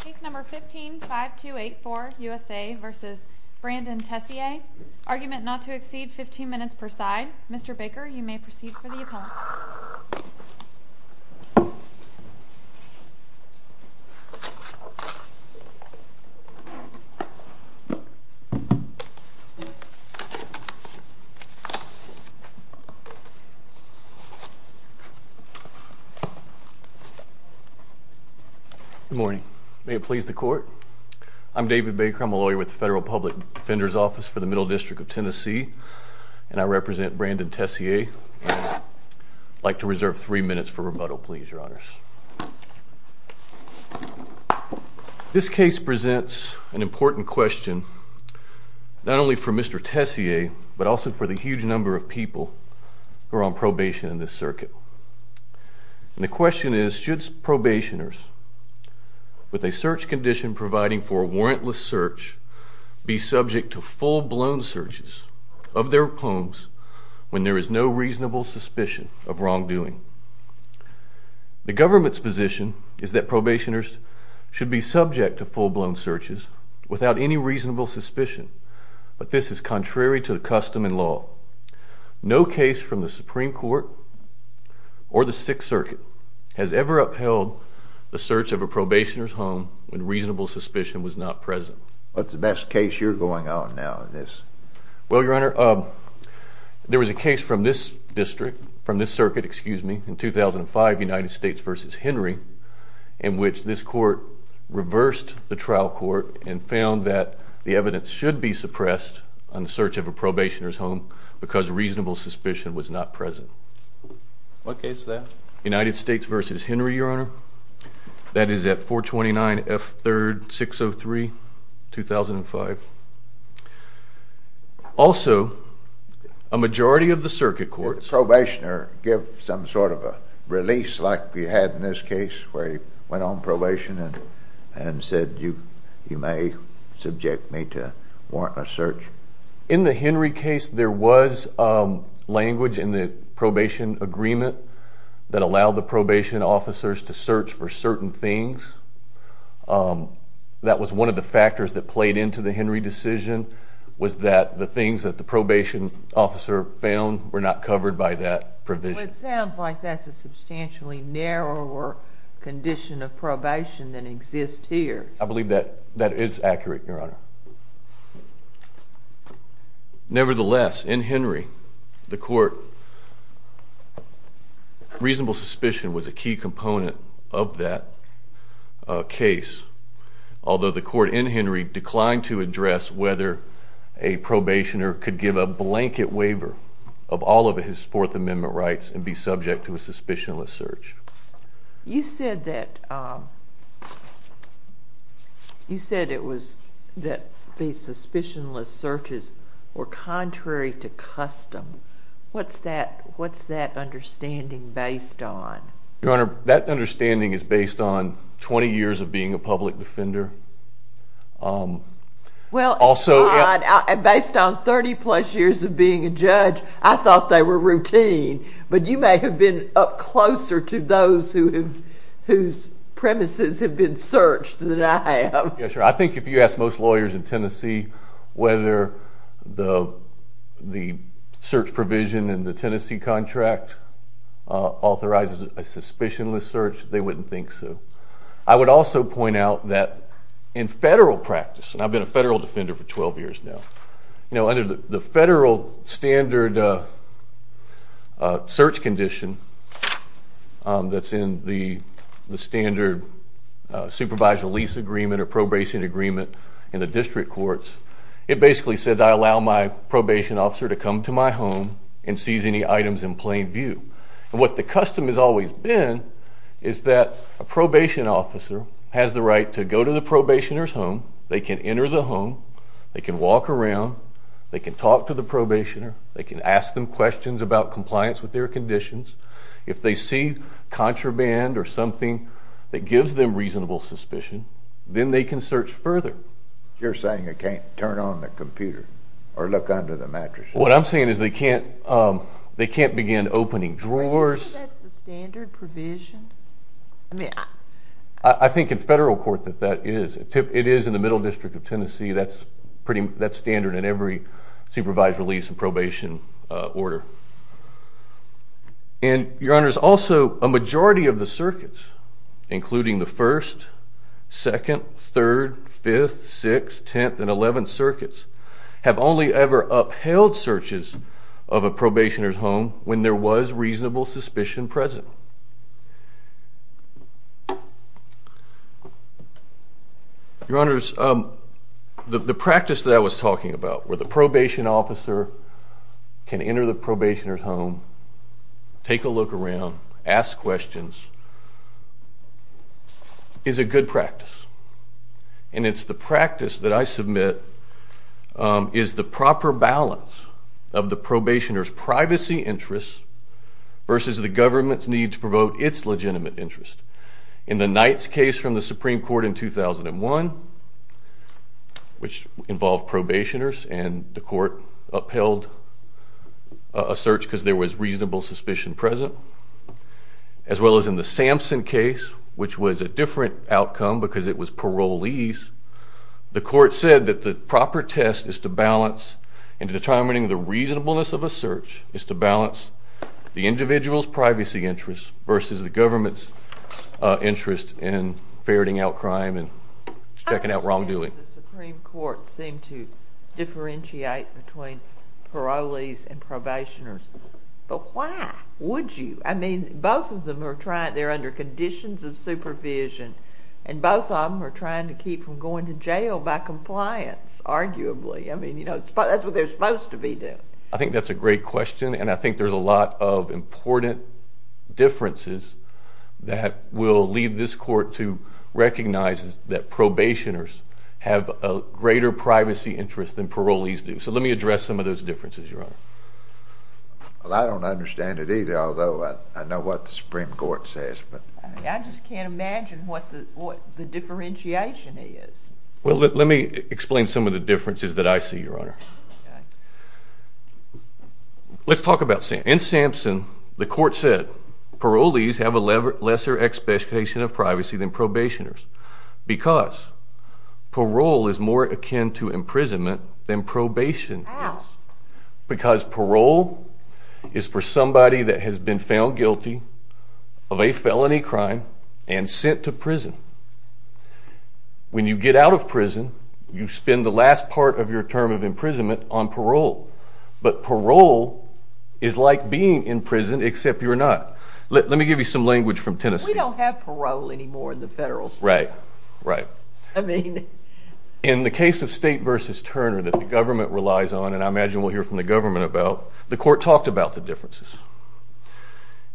Case number 15-5284 USA v. Brandon Tessier Argument not to exceed 15 minutes per side Mr. Baker, you may proceed for the appellant Good morning. May it please the court? I'm David Baker. I'm a lawyer with the Federal Public Defender's Office for the Middle District of Tennessee and I represent Brandon Tessier. I'd like to reserve three minutes for rebuttal, please, Your Honors. This case presents an important question not only for Mr. Tessier, but also for the huge number of people who are on probation in this circuit. The question is, should probationers with a search condition providing for a warrantless search be subject to full-blown searches of their homes when there is no reasonable suspicion of wrongdoing? The government's position is that probationers should be subject to full-blown searches without any reasonable suspicion but this is contrary to the custom and law. No case from the Supreme Court or the Sixth Circuit has ever upheld the search of a probationer's home when reasonable suspicion was not present. What's the best case you're going on now in this? Well, Your Honor, there was a case from this district from this circuit, excuse me, in 2005, United States v. Henry in which this court reversed the trial court and found that the evidence should be suppressed on the search of a probationer's home because reasonable suspicion was not present. What case is that? United States v. Henry, Your Honor. That is at 429 F. 3rd, 603, 2005. Also, a majority of the circuit courts... Did the probationer give some sort of a release like we had in this case where he went on probation and said you may subject me to warrantless search? In the Henry case, there was language in the probation agreement that allowed the probation officers to search for certain things. That was one of the factors that played into the Henry decision was that the things that the probation officer found were not covered by that provision. Well, it sounds like that's a substantially narrower condition of probation than exists here. I believe that is accurate, Your Honor. Nevertheless, in Henry, the court... reasonable suspicion was a key component of that case, although the court in Henry declined to address whether a probationer could give a blanket waiver of all of his Fourth Amendment rights and be subject to a suspicionless search. You said that these suspicionless searches were contrary to custom. What's that understanding based on? Your Honor, that understanding is based on 20 years of being a public defender. Based on 30-plus years of being a judge, I thought they were routine, but you may have been up closer to those whose premises have been searched than I have. Yes, Your Honor. I think if you ask most lawyers in Tennessee whether the search provision in the Tennessee contract authorizes a suspicionless search, they wouldn't think so. I would also point out that in federal practice, and I've been a federal defender for 12 years now, under the federal standard search condition that's in the standard supervisor lease agreement or probation agreement in the district courts, it basically says I allow my probation officer to come to my home and seize any items in plain view. What the custom has always been is that a probation officer has the right to go to the probationer's home. They can enter the home. They can walk around. They can talk to the probationer. They can ask them questions about compliance with their conditions. If they see contraband or something that gives them reasonable suspicion, then they can search further. You're saying they can't turn on the computer or look under the mattress? What I'm saying is they can't begin opening drawers. That's the standard provision? I think in federal court that that is. It is in the Middle District of Tennessee. That's standard in every supervisor lease and probation order. Your Honors, also a majority of the circuits, including the 1st, 2nd, 3rd, 5th, 6th, 10th, and 11th circuits, have only ever upheld searches of a probationer's home when there was reasonable suspicion present. Your Honors, the practice that I was talking about, where the probation officer can enter the probationer's home, take a look around, ask questions, is a good practice. And it's the practice that I submit is the proper balance of the probationer's privacy interests versus the government's need to promote its legitimate interest. In the Knight's case from the Supreme Court in 2001, which involved probationers and the court upheld a search because there was reasonable suspicion present, as well as in the Sampson case, which was a different outcome because it was parolees, the court said that the proper test is to balance in determining the reasonableness of a search is to balance the individual's privacy interests versus the government's interest in ferreting out crime and checking out wrongdoing. I understand the Supreme Court seemed to differentiate between parolees and probationers, but why would you? I mean, both of them are under conditions of supervision, and both of them are trying to keep from going to jail by compliance, arguably. I mean, that's what they're supposed to be doing. I think that's a great question, and I think there's a lot of important differences that will lead this court to recognize that probationers have a greater privacy interest than parolees do. So let me address some of those differences, Your Honor. Well, I don't understand it either, although I know what the Supreme Court says. I just can't imagine what the differentiation is. Well, let me explain some of the differences that I see, Your Honor. In Sampson, the court said parolees have a lesser expectation of privacy than probationers because parole is more akin to imprisonment than probation. How? Because parole is for somebody that has been found guilty of a felony crime and sent to prison. When you get out of prison, you spend the last part of your term of imprisonment on parole. But parole is like being in prison, except you're not. Let me give you some language from Tennessee. We don't have parole anymore in the federal system. Right, right. I mean... In the case of State v. Turner that the government relies on, and I imagine we'll hear from the government about, the court talked about the differences.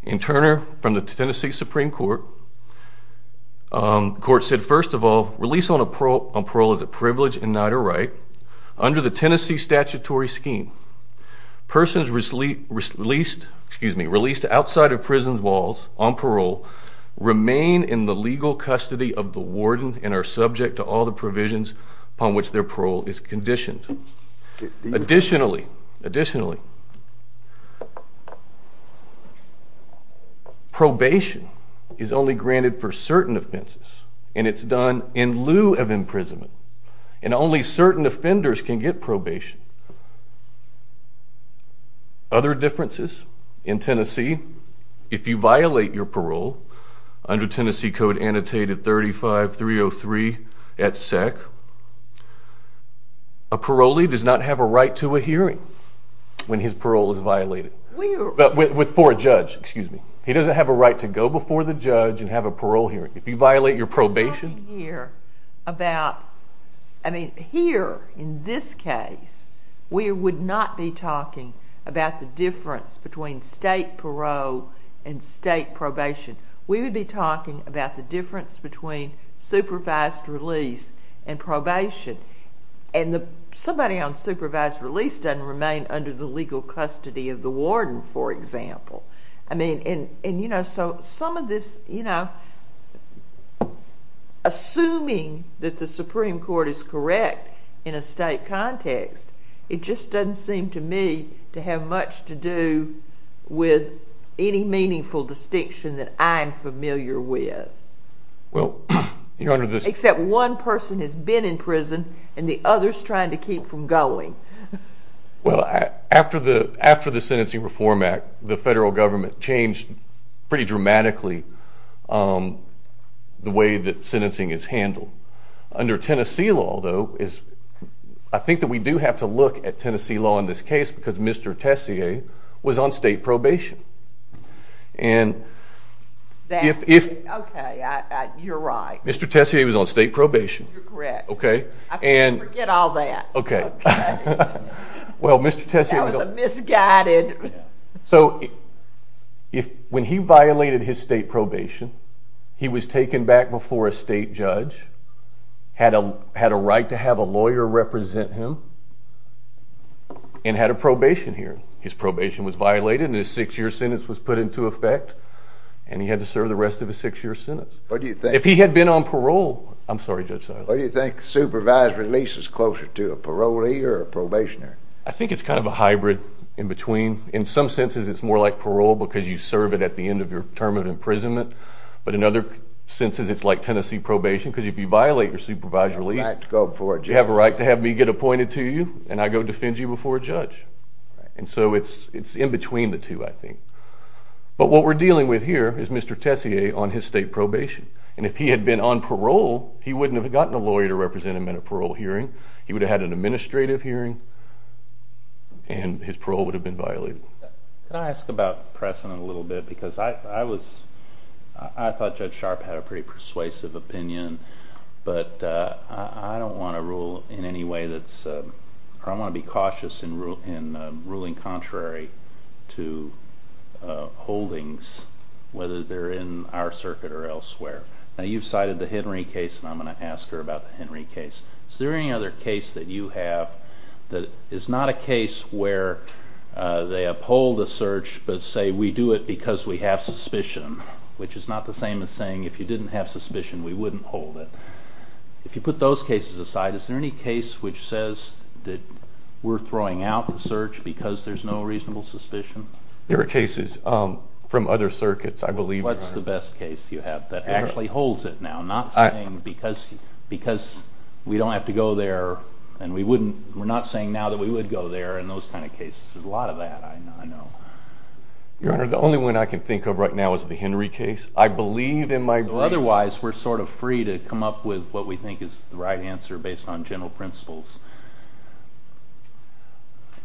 In Turner, from the Tennessee Supreme Court, the court said, first of all, release on parole is a privilege in neither right. Under the Tennessee statutory scheme, persons released outside of prison walls on parole remain in the legal custody of the warden and are subject to all the provisions upon which their parole is conditioned. Additionally, probation is only granted for certain offenses, and it's done in lieu of imprisonment, and only certain offenders can get probation. Other differences in Tennessee, if you violate your parole, under Tennessee Code Annotated 35303 at SEC, a parolee does not have a right to a hearing when his parole is violated. For a judge, excuse me. He doesn't have a right to go before the judge and have a parole hearing. If you violate your probation... We're talking here about... I mean, here, in this case, we would not be talking about the difference between state parole and state probation. We would be talking about the difference between supervised release and probation. And somebody on supervised release doesn't remain under the legal custody of the warden, for example. I mean, and, you know, so some of this, you know... Assuming that the Supreme Court is correct in a state context, it just doesn't seem to me to have much to do with any meaningful distinction that I'm familiar with. Well, Your Honor, this... Except one person has been in prison and the other's trying to keep from going. Well, after the Sentencing Reform Act, the federal government changed pretty dramatically the way that sentencing is handled. Under Tennessee law, though, I think that we do have to look at Tennessee law in this case because Mr. Tessier was on state probation. And if... Okay, you're right. Mr. Tessier was on state probation. You're correct. Okay, and... Forget all that. Okay. Well, Mr. Tessier... That was a misguided... So when he violated his state probation, he was taken back before a state judge, had a right to have a lawyer represent him, and had a probation hearing. His probation was violated and his six-year sentence was put into effect, and he had to serve the rest of his six-year sentence. What do you think? If he had been on parole... I'm sorry, Judge Seiler. What do you think? Supervised release is closer to a parolee or a probationary? I think it's kind of a hybrid in between. In some senses, it's more like parole because you serve it at the end of your term of imprisonment, but in other senses, it's like Tennessee probation because if you violate your supervised release... You have a right to go before a judge. I go to you and I go defend you before a judge. And so it's in between the two, I think. But what we're dealing with here is Mr. Tessier on his state probation. And if he had been on parole, he wouldn't have gotten a lawyer to represent him in a parole hearing. He would have had an administrative hearing and his parole would have been violated. Can I ask about Presson a little bit? Because I thought Judge Sharp had a pretty persuasive opinion, but I don't want to rule in any way that's... I want to be cautious in ruling contrary to holdings, whether they're in our circuit or elsewhere. Now, you've cited the Henry case, and I'm going to ask her about the Henry case. Is there any other case that you have that is not a case where they uphold a search but say, we do it because we have suspicion, which is not the same as saying, if you didn't have suspicion, we wouldn't hold it? If you put those cases aside, is there any case which says that we're throwing out the search because there's no reasonable suspicion? There are cases from other circuits, I believe. What's the best case you have that actually holds it now, not saying because we don't have to go there and we're not saying now that we would go there and those kind of cases? There's a lot of that, I know. Your Honor, the only one I can think of right now is the Henry case. Otherwise, we're sort of free to come up with what we think is the right answer based on general principles.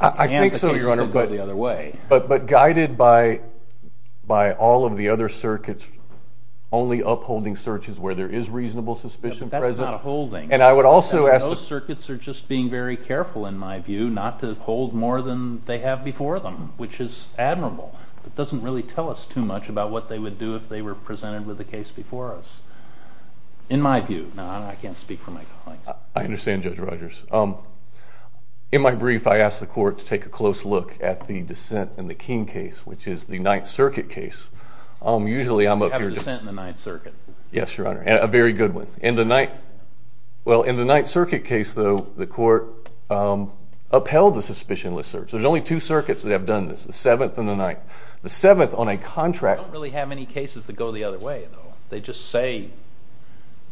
I think so, Your Honor, but guided by all of the other circuits only upholding searches where there is reasonable suspicion present. That's not a holding. And I would also ask... Those circuits are just being very careful, in my view, not to hold more than they have before them, which is admirable. It doesn't really tell us too much about what they would do if they were presented with a case before us, in my view. Now, I can't speak for my colleagues. I understand, Judge Rogers. In my brief, I asked the court to take a close look at the dissent in the Keene case, which is the Ninth Circuit case. You have a dissent in the Ninth Circuit. Yes, Your Honor, a very good one. In the Ninth Circuit case, though, the court upheld the suspicionless search. There's only two circuits that have done this, the Seventh and the Ninth. The Seventh, on a contract... We don't really have any cases that go the other way, though. They just say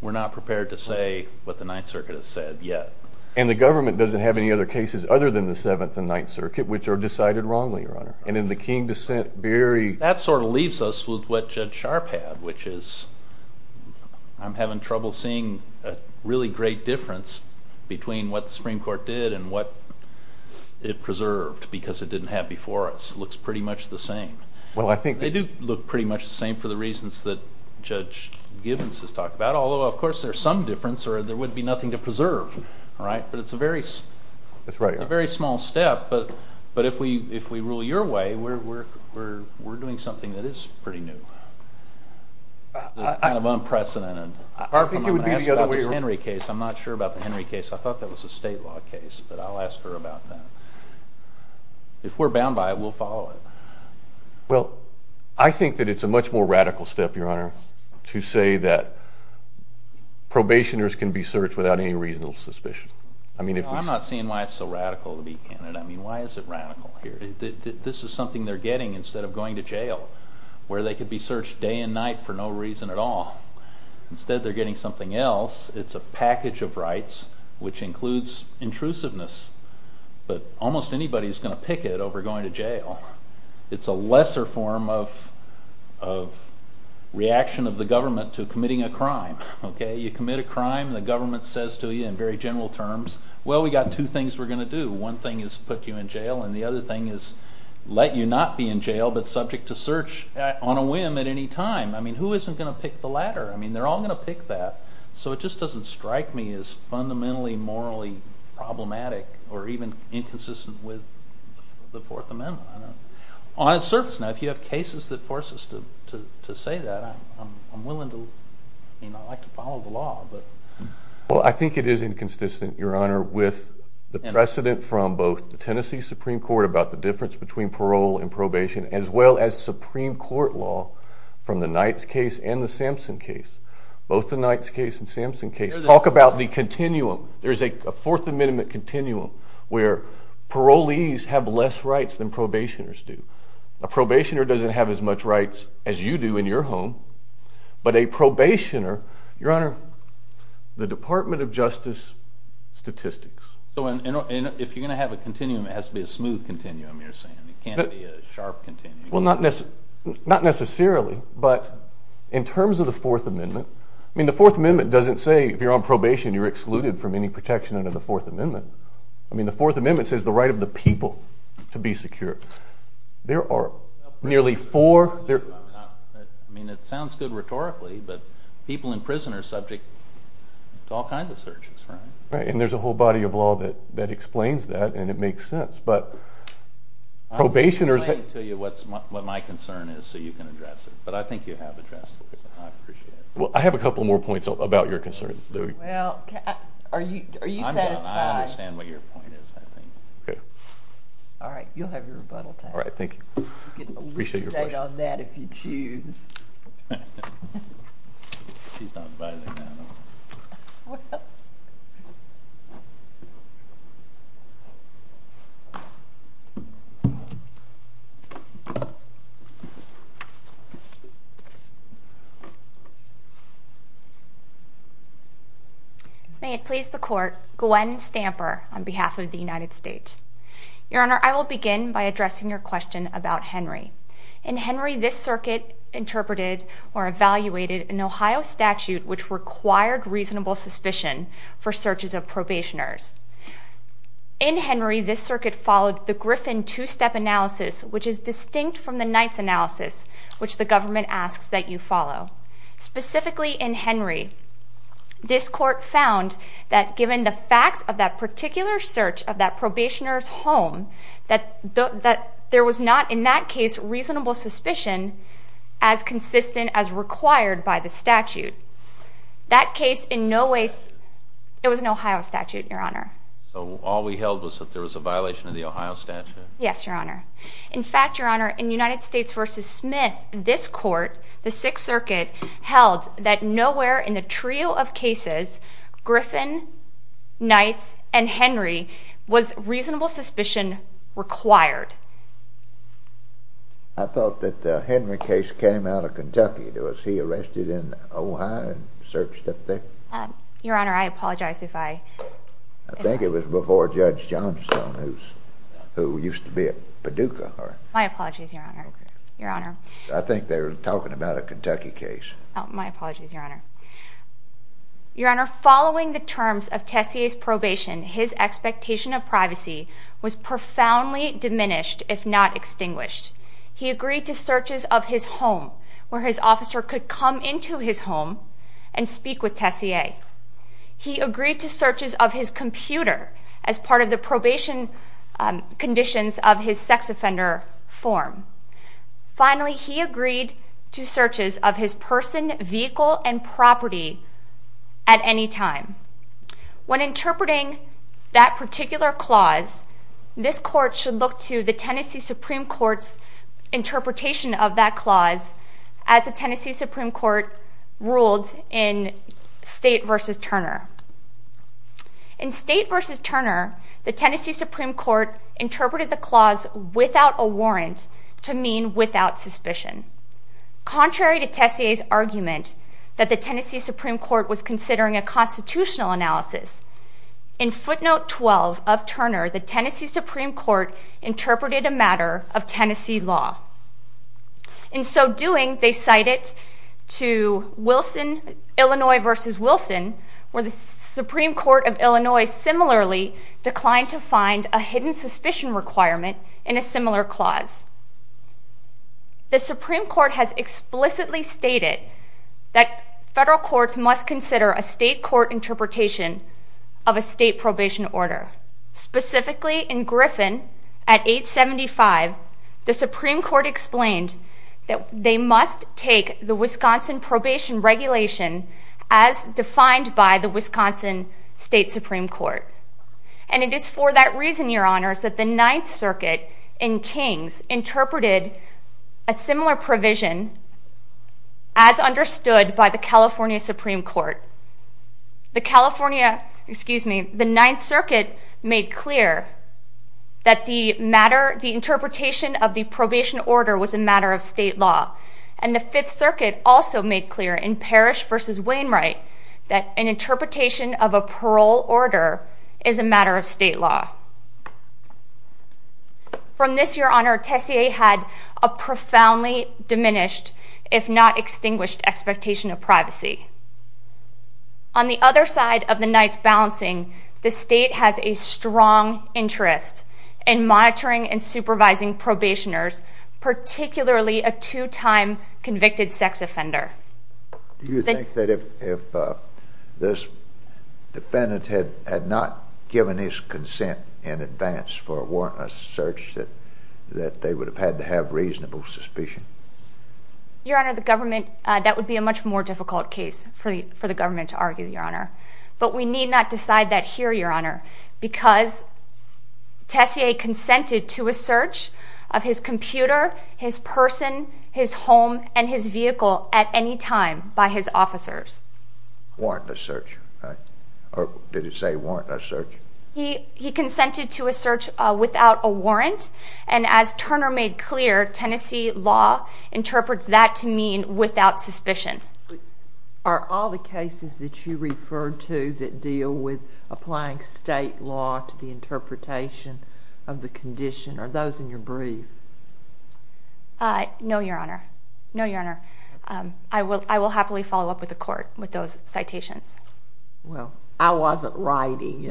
we're not prepared to say what the Ninth Circuit has said yet. And the government doesn't have any other cases other than the Seventh and Ninth Circuit, which are decided wrongly, Your Honor. And in the Keene dissent, very... That sort of leaves us with what Judge Sharp had, which is I'm having trouble seeing a really great difference between what the Supreme Court did and what it preserved because it didn't have before us. It looks pretty much the same. They do look pretty much the same for the reasons that Judge Gibbons has talked about, although, of course, there's some difference, or there would be nothing to preserve. But it's a very small step. But if we rule your way, we're doing something that is pretty new, that's kind of unprecedented. I'm going to ask about this Henry case. I'm not sure about the Henry case. I thought that was a state law case, but I'll ask her about that. If we're bound by it, we'll follow it. Well, I think that it's a much more radical step, Your Honor, to say that probationers can be searched without any reasonable suspicion. I'm not seeing why it's so radical to be in it. I mean, why is it radical here? This is something they're getting instead of going to jail, where they could be searched day and night for no reason at all. Instead, they're getting something else. It's a package of rights, which includes intrusiveness, but almost anybody is going to pick it over going to jail. It's a lesser form of reaction of the government to committing a crime. You commit a crime, and the government says to you in very general terms, well, we've got two things we're going to do. One thing is put you in jail, and the other thing is let you not be in jail but subject to search on a whim at any time. I mean, who isn't going to pick the latter? I mean, they're all going to pick that. So it just doesn't strike me as fundamentally morally problematic or even inconsistent with the Fourth Amendment. On its surface, if you have cases that force us to say that, I'm willing to follow the law. Well, I think it is inconsistent, Your Honor, with the precedent from both the Tennessee Supreme Court about the difference between parole and probation as well as Supreme Court law from the Knights case and the Sampson case. Both the Knights case and the Sampson case. Let's talk about the continuum. There's a Fourth Amendment continuum where parolees have less rights than probationers do. A probationer doesn't have as much rights as you do in your home, but a probationer, Your Honor, the Department of Justice statistics. So if you're going to have a continuum, it has to be a smooth continuum, you're saying. It can't be a sharp continuum. Well, not necessarily, but in terms of the Fourth Amendment, I mean, the Fourth Amendment doesn't say if you're on probation you're excluded from any protection under the Fourth Amendment. I mean, the Fourth Amendment says the right of the people to be secure. There are nearly four... I mean, it sounds good rhetorically, but people in prison are subject to all kinds of searches, right? Right, and there's a whole body of law that explains that, and it makes sense, but probationers... I'm explaining to you what my concern is so you can address it, but I think you have addressed it, so I appreciate it. Well, I have a couple more points about your concern. Well, are you satisfied? I understand what your point is, I think. Okay. All right, you'll have your rebuttal time. All right, thank you. You can at least state on that if you choose. She's not advising now, though. Well... May it please the Court. Gwen Stamper on behalf of the United States. Your Honor, I will begin by addressing your question about Henry. In Henry, this circuit interpreted or evaluated an Ohio statute which required reasonable suspicion for searches of probationers. In Henry, this circuit followed the Griffin two-step analysis, which is distinct from the Knight's analysis, which the government asks that you follow. Specifically in Henry, this Court found that given the facts of that particular search of that probationer's home, that there was not in that case reasonable suspicion as consistent as required by the statute. That case in no way... It was an Ohio statute, Your Honor. So all we held was that there was a violation of the Ohio statute? Yes, Your Honor. In fact, Your Honor, in United States v. Smith, this Court, the Sixth Circuit, held that nowhere in the trio of cases, Griffin, Knight's, and Henry, was reasonable suspicion required. I thought that the Henry case came out of Kentucky. Was he arrested in Ohio and searched up there? Your Honor, I apologize if I... I think it was before Judge Johnstone, who used to be at Paducah. My apologies, Your Honor. I think they were talking about a Kentucky case. My apologies, Your Honor. Your Honor, following the terms of Tessier's probation, his expectation of privacy was profoundly diminished, if not extinguished. He agreed to searches of his home, where his officer could come into his home and speak with Tessier. He agreed to searches of his computer as part of the probation conditions of his sex offender form. Finally, he agreed to searches of his person, vehicle, and property at any time. When interpreting that particular clause, this Court should look to the Tennessee Supreme Court's interpretation of that clause, as the Tennessee Supreme Court ruled in State v. Turner. In State v. Turner, the Tennessee Supreme Court interpreted the clause without a warrant to mean without suspicion. Contrary to Tessier's argument that the Tennessee Supreme Court was considering a constitutional analysis, in footnote 12 of Turner, the Tennessee Supreme Court interpreted a matter of Tennessee law. In so doing, they cite it to Illinois v. Wilson, where the Supreme Court of Illinois similarly declined to find a hidden suspicion requirement in a similar clause. The Supreme Court has explicitly stated that federal courts must consider a state court interpretation of a state probation order. Specifically, in Griffin, at 875, the Supreme Court explained that they must take the Wisconsin Probation Regulation as defined by the Wisconsin State Supreme Court. And it is for that reason, Your Honors, that the Ninth Circuit in Kings interpreted a similar provision as understood by the California Supreme Court. The California, excuse me, the Ninth Circuit made clear that the matter, the interpretation of the probation order was a matter of state law. And the Fifth Circuit also made clear in Parrish v. Wainwright that an interpretation of a parole order is a matter of state law. From this, Your Honor, Tessier had a profoundly diminished, if not extinguished, expectation of privacy. On the other side of the night's balancing, the state has a strong interest in monitoring and supervising probationers, particularly a two-time convicted sex offender. Do you think that if this defendant had not given his consent in advance for a warrantless search that they would have had to have reasonable suspicion? Your Honor, the government, that would be a much more difficult case for the government to argue, Your Honor. But we need not decide that here, Your Honor, because Tessier consented to a search of his computer, his person, his home, and his vehicle at any time by his officers. Warrantless search, right? Or did it say warrantless search? He consented to a search without a warrant, and as Turner made clear, Tennessee law interprets that to mean without suspicion. Are all the cases that you refer to that deal with applying state law to the interpretation of the condition, are those in your brief? No, Your Honor. No, Your Honor. I will happily follow up with the court with those citations. Well, I wasn't writing.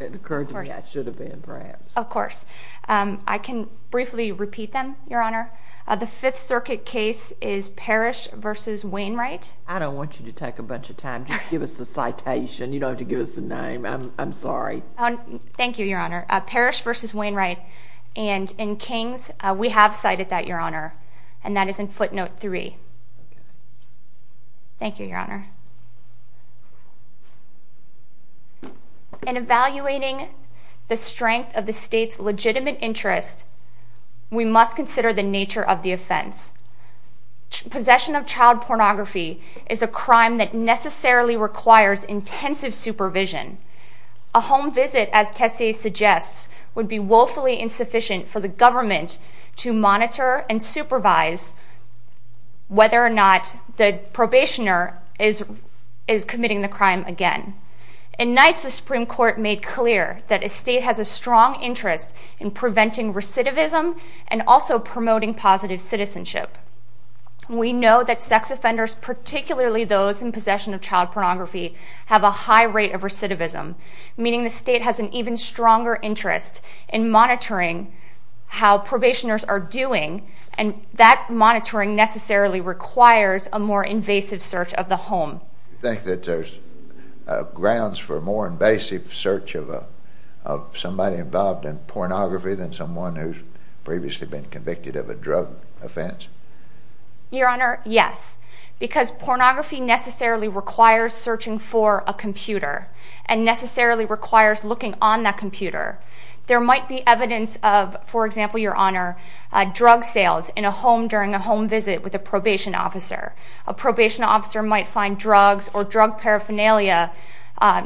It occurred to me I should have been, perhaps. Of course. I can briefly repeat them, Your Honor. The Fifth Circuit case is Parrish v. Wainwright. I don't want you to take a bunch of time. Just give us the citation. You don't have to give us the name. I'm sorry. Thank you, Your Honor. Parrish v. Wainwright. And in Kings, we have cited that, Your Honor, and that is in footnote 3. Thank you, Your Honor. In evaluating the strength of the state's legitimate interest, we must consider the nature of the offense. Possession of child pornography is a crime that necessarily requires intensive supervision. A home visit, as Tessier suggests, would be woefully insufficient for the government to monitor and supervise whether or not the probationer is committing the crime again. In Knights, the Supreme Court made clear that a state has a strong interest in preventing recidivism and also promoting positive citizenship. We know that sex offenders, particularly those in possession of child pornography, have a high rate of recidivism, meaning the state has an even stronger interest in monitoring how probationers are doing, and that monitoring necessarily requires a more invasive search of the home. Do you think that there's grounds for a more invasive search of somebody involved in pornography than someone who's previously been convicted of a drug offense? Your Honor, yes, because pornography necessarily requires searching for a computer and necessarily requires looking on that computer. There might be evidence of, for example, Your Honor, drug sales in a home during a home visit with a probation officer. A probation officer might find drugs or drug paraphernalia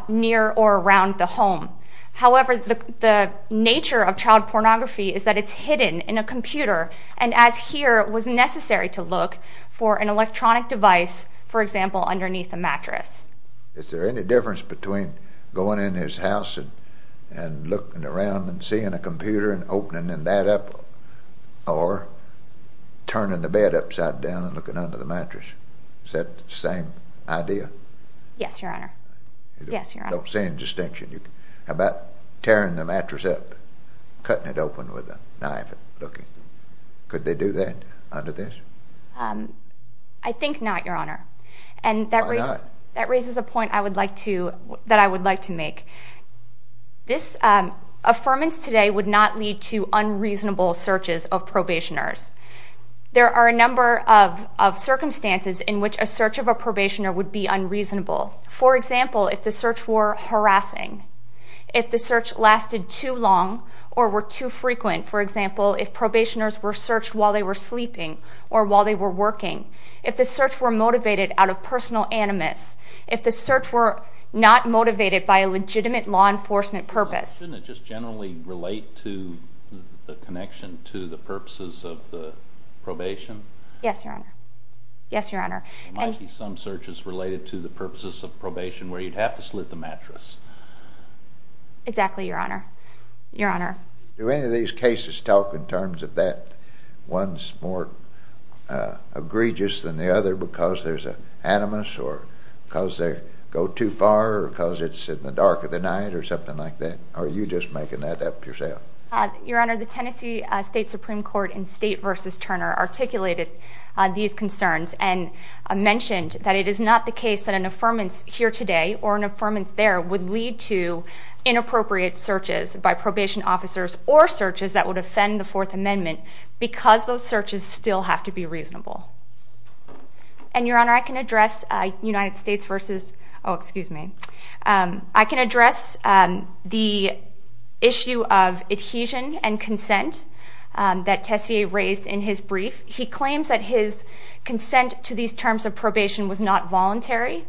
near or around the home. However, the nature of child pornography is that it's hidden in a computer, and as here, it was necessary to look for an electronic device, for example, underneath a mattress. Is there any difference between going in his house and looking around and seeing a computer and opening that up or turning the bed upside down and looking under the mattress? Is that the same idea? Yes, Your Honor. I don't see any distinction. How about tearing the mattress up, cutting it open with a knife and looking? Could they do that under this? I think not, Your Honor. Why not? That raises a point that I would like to make. Affirmance today would not lead to unreasonable searches of probationers. There are a number of circumstances in which a search of a probationer would be unreasonable. For example, if the search were harassing, if the search lasted too long or were too frequent, for example, if probationers were searched while they were sleeping or while they were working, if the search were motivated out of personal animus, if the search were not motivated by a legitimate law enforcement purpose. Doesn't it just generally relate to the connection to the purposes of the probation? Yes, Your Honor. There might be some searches related to the purposes of probation where you'd have to slit the mattress. Exactly, Your Honor. Do any of these cases talk in terms of that one's more egregious than the other because there's animus or because they go too far or because it's in the dark of the night or something like that? Or are you just making that up yourself? Your Honor, the Tennessee State Supreme Court in State v. Turner articulated these concerns and mentioned that it is not the case that an affirmance here today or an affirmance there would lead to inappropriate searches by probation officers or searches that would offend the Fourth Amendment because those searches still have to be reasonable. And, Your Honor, I can address United States v... Oh, excuse me. I can address the issue of adhesion and consent that Tessier raised in his brief. He claims that his consent to these terms of probation was not voluntary,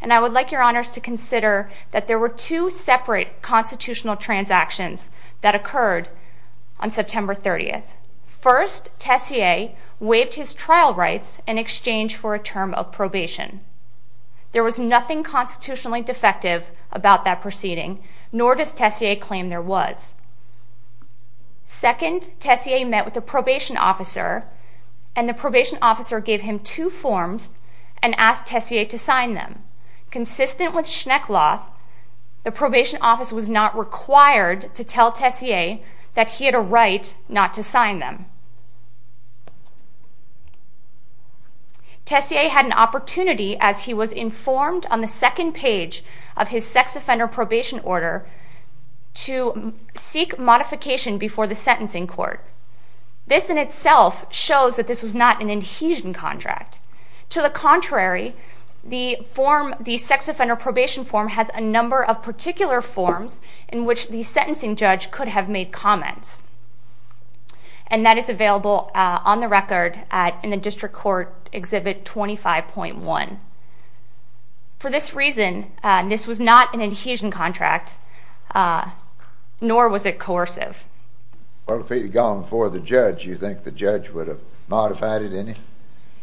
and I would like Your Honors to consider that there were two separate constitutional transactions that occurred on September 30th. First, Tessier waived his trial rights in exchange for a term of probation. There was nothing constitutionally defective about that proceeding, nor does Tessier claim there was. Second, Tessier met with a probation officer, and the probation officer gave him two forms and asked Tessier to sign them. Consistent with Schneckloth, the probation officer was not required to tell Tessier that he had a right not to sign them. Tessier had an opportunity, as he was informed on the second page of his sex offender probation order, to seek modification before the sentencing court. This in itself shows that this was not an adhesion contract. To the contrary, the form, the sex offender probation form, has a number of particular forms in which the sentencing judge could have made comments, and that is available on the record in the District Court Exhibit 25.1. For this reason, this was not an adhesion contract, nor was it coercive. Well, if it had gone before the judge, do you think the judge would have modified it in any?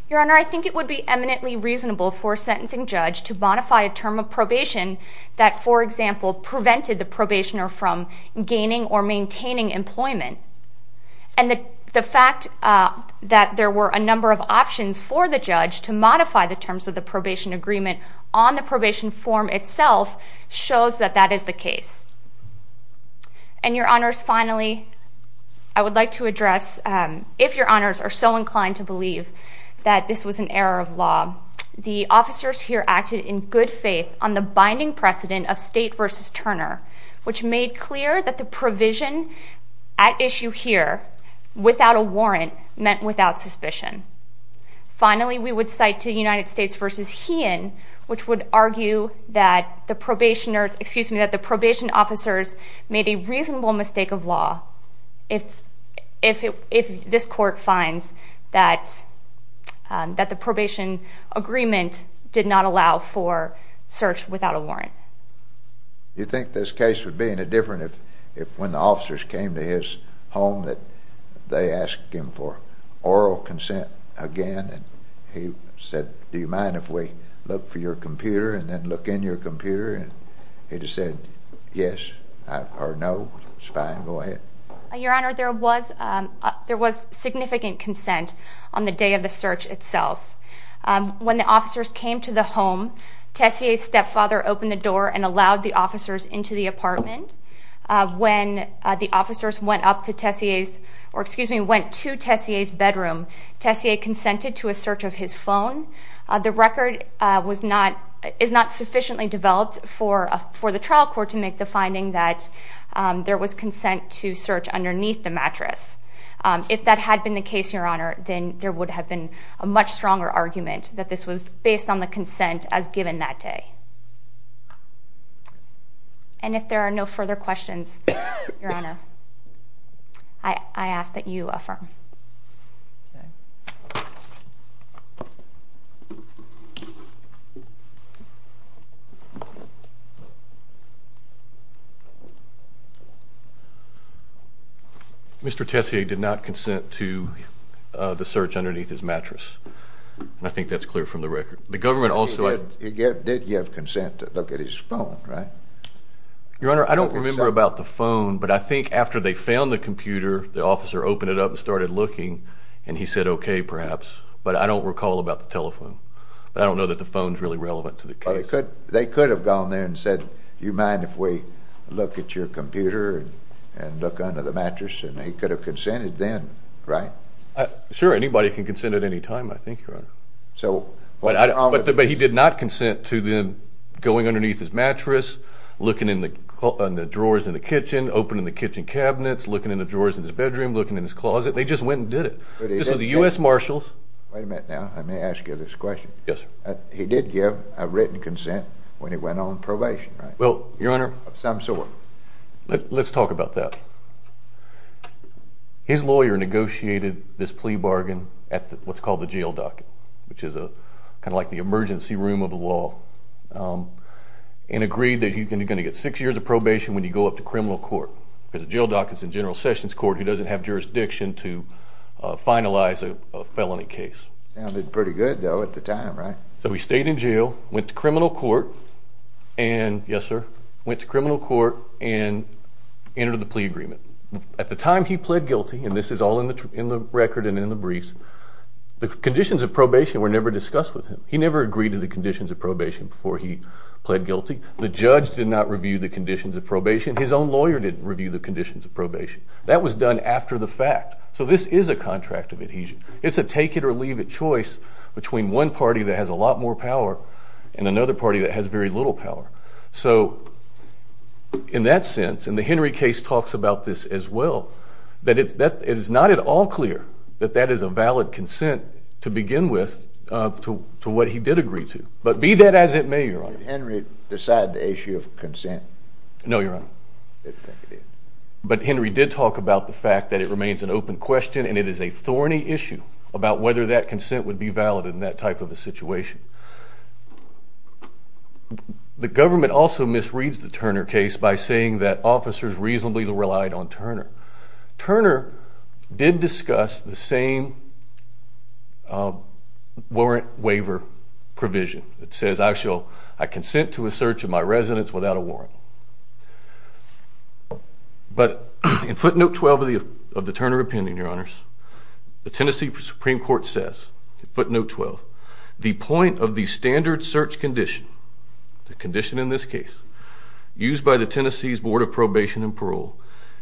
Your Honor, I think it would be eminently reasonable for a sentencing judge to modify a term of probation that, for example, prevented the probationer from gaining or maintaining employment. And the fact that there were a number of options for the judge to modify the terms of the probation agreement on the probation form itself shows that that is the case. And, Your Honors, finally, I would like to address, if Your Honors are so inclined to believe that this was an error of law, the officers here acted in good faith on the binding precedent of State v. Turner, which made clear that the provision at issue here, without a warrant, meant without suspicion. Finally, we would cite to United States v. Heon, which would argue that the probation officers made a reasonable mistake of law if this court finds that the probation agreement did not allow for search without a warrant. Do you think this case would be any different if, when the officers came to his home, they asked him for oral consent again, and he said, do you mind if we look for your computer and then look in your computer? And he just said, yes, or no, it's fine, go ahead. Your Honor, there was significant consent on the day of the search itself. When the officers came to the home, Tessier's stepfather opened the door and allowed the officers into the apartment. When the officers went up to Tessier's, or, excuse me, went to Tessier's bedroom, Tessier consented to a search of his phone. The record is not sufficiently developed for the trial court to make the finding that there was consent to search underneath the mattress. If that had been the case, Your Honor, then there would have been a much stronger argument that this was based on the consent as given that day. And if there are no further questions, Your Honor, I ask that you affirm. Mr. Tessier did not consent to the search underneath his mattress, and I think that's clear from the record. The government also... He did give consent to look at his phone, right? Your Honor, I don't remember about the phone, but I think after they found the computer, the officer opened it up and started looking, and he said, okay, perhaps, but I don't recall about the telephone. But I don't know that the phone's really relevant to the case. They could have gone there and said, do you mind if we look at your computer and look under the mattress? And he could have consented then, right? Sure, anybody can consent at any time, I think, Your Honor. But he did not consent to them going underneath his mattress, looking in the drawers in the kitchen, opening the kitchen cabinets, looking in the drawers in his bedroom, looking in his closet. They just went and did it. So the U.S. Marshals... Wait a minute now. Let me ask you this question. Yes, sir. He did give a written consent when he went on probation, right? Well, Your Honor... Of some sort. Let's talk about that. His lawyer negotiated this plea bargain at what's called the jail docket, which is kind of like the emergency room of the law, and agreed that he's going to get six years of probation when you go up to criminal court, because the jail docket's in General Sessions Court. He doesn't have jurisdiction to finalize a felony case. Sounded pretty good, though, at the time, right? So he stayed in jail, went to criminal court, and... Yes, sir? Went to criminal court and entered the plea agreement. At the time he pled guilty, and this is all in the record and in the briefs, the conditions of probation were never discussed with him. He never agreed to the conditions of probation before he pled guilty. The judge did not review the conditions of probation. His own lawyer didn't review the conditions of probation. That was done after the fact. So this is a contract of adhesion. It's a take-it-or-leave-it choice between one party that has a lot more power and another party that has very little power. So in that sense, and the Henry case talks about this as well, that it is not at all clear that that is a valid consent to begin with to what he did agree to. But be that as it may, Your Honor. Did Henry decide the issue of consent? No, Your Honor. But Henry did talk about the fact that it remains an open question and it is a thorny issue about whether that consent would be valid in that type of a situation. The government also misreads the Turner case by saying that officers reasonably relied on Turner. Turner did discuss the same warrant waiver provision. It says, I consent to a search of my residence without a warrant. But in footnote 12 of the Turner opinion, Your Honors, the Tennessee Supreme Court says, footnote 12, the point of the standard search condition, the condition in this case, used by the Tennessee's Board of Probation and Parole,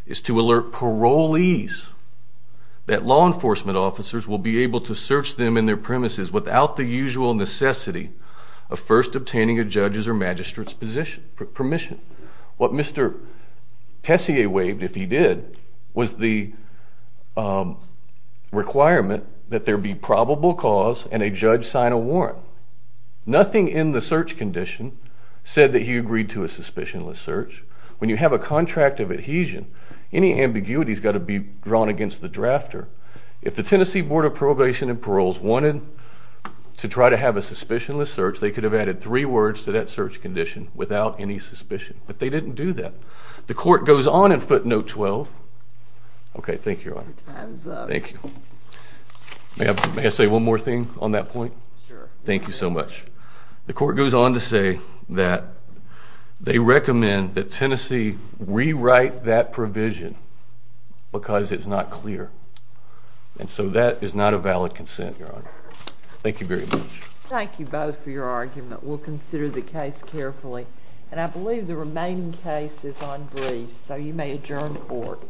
is to alert parolees that law enforcement officers will be able to search them in their premises without the usual necessity of first obtaining a judge's or a magistrate's permission. What Mr. Tessier waived, if he did, was the requirement that there be probable cause and a judge sign a warrant. Nothing in the search condition said that he agreed to a suspicionless search. When you have a contract of adhesion, any ambiguity has got to be drawn against the drafter. If the Tennessee Board of Probation and Paroles wanted to try to have a suspicionless search, they could have added three words to that search condition without any suspicion. But they didn't do that. The court goes on in footnote 12. Okay, thank you, Your Honor. Your time is up. Thank you. May I say one more thing on that point? Sure. Thank you so much. The court goes on to say that they recommend that Tennessee rewrite that provision because it's not clear. And so that is not a valid consent, Your Honor. Thank you very much. Thank you both for your argument. We'll consider the case carefully. And I believe the remaining case is on brief. So you may adjourn the court.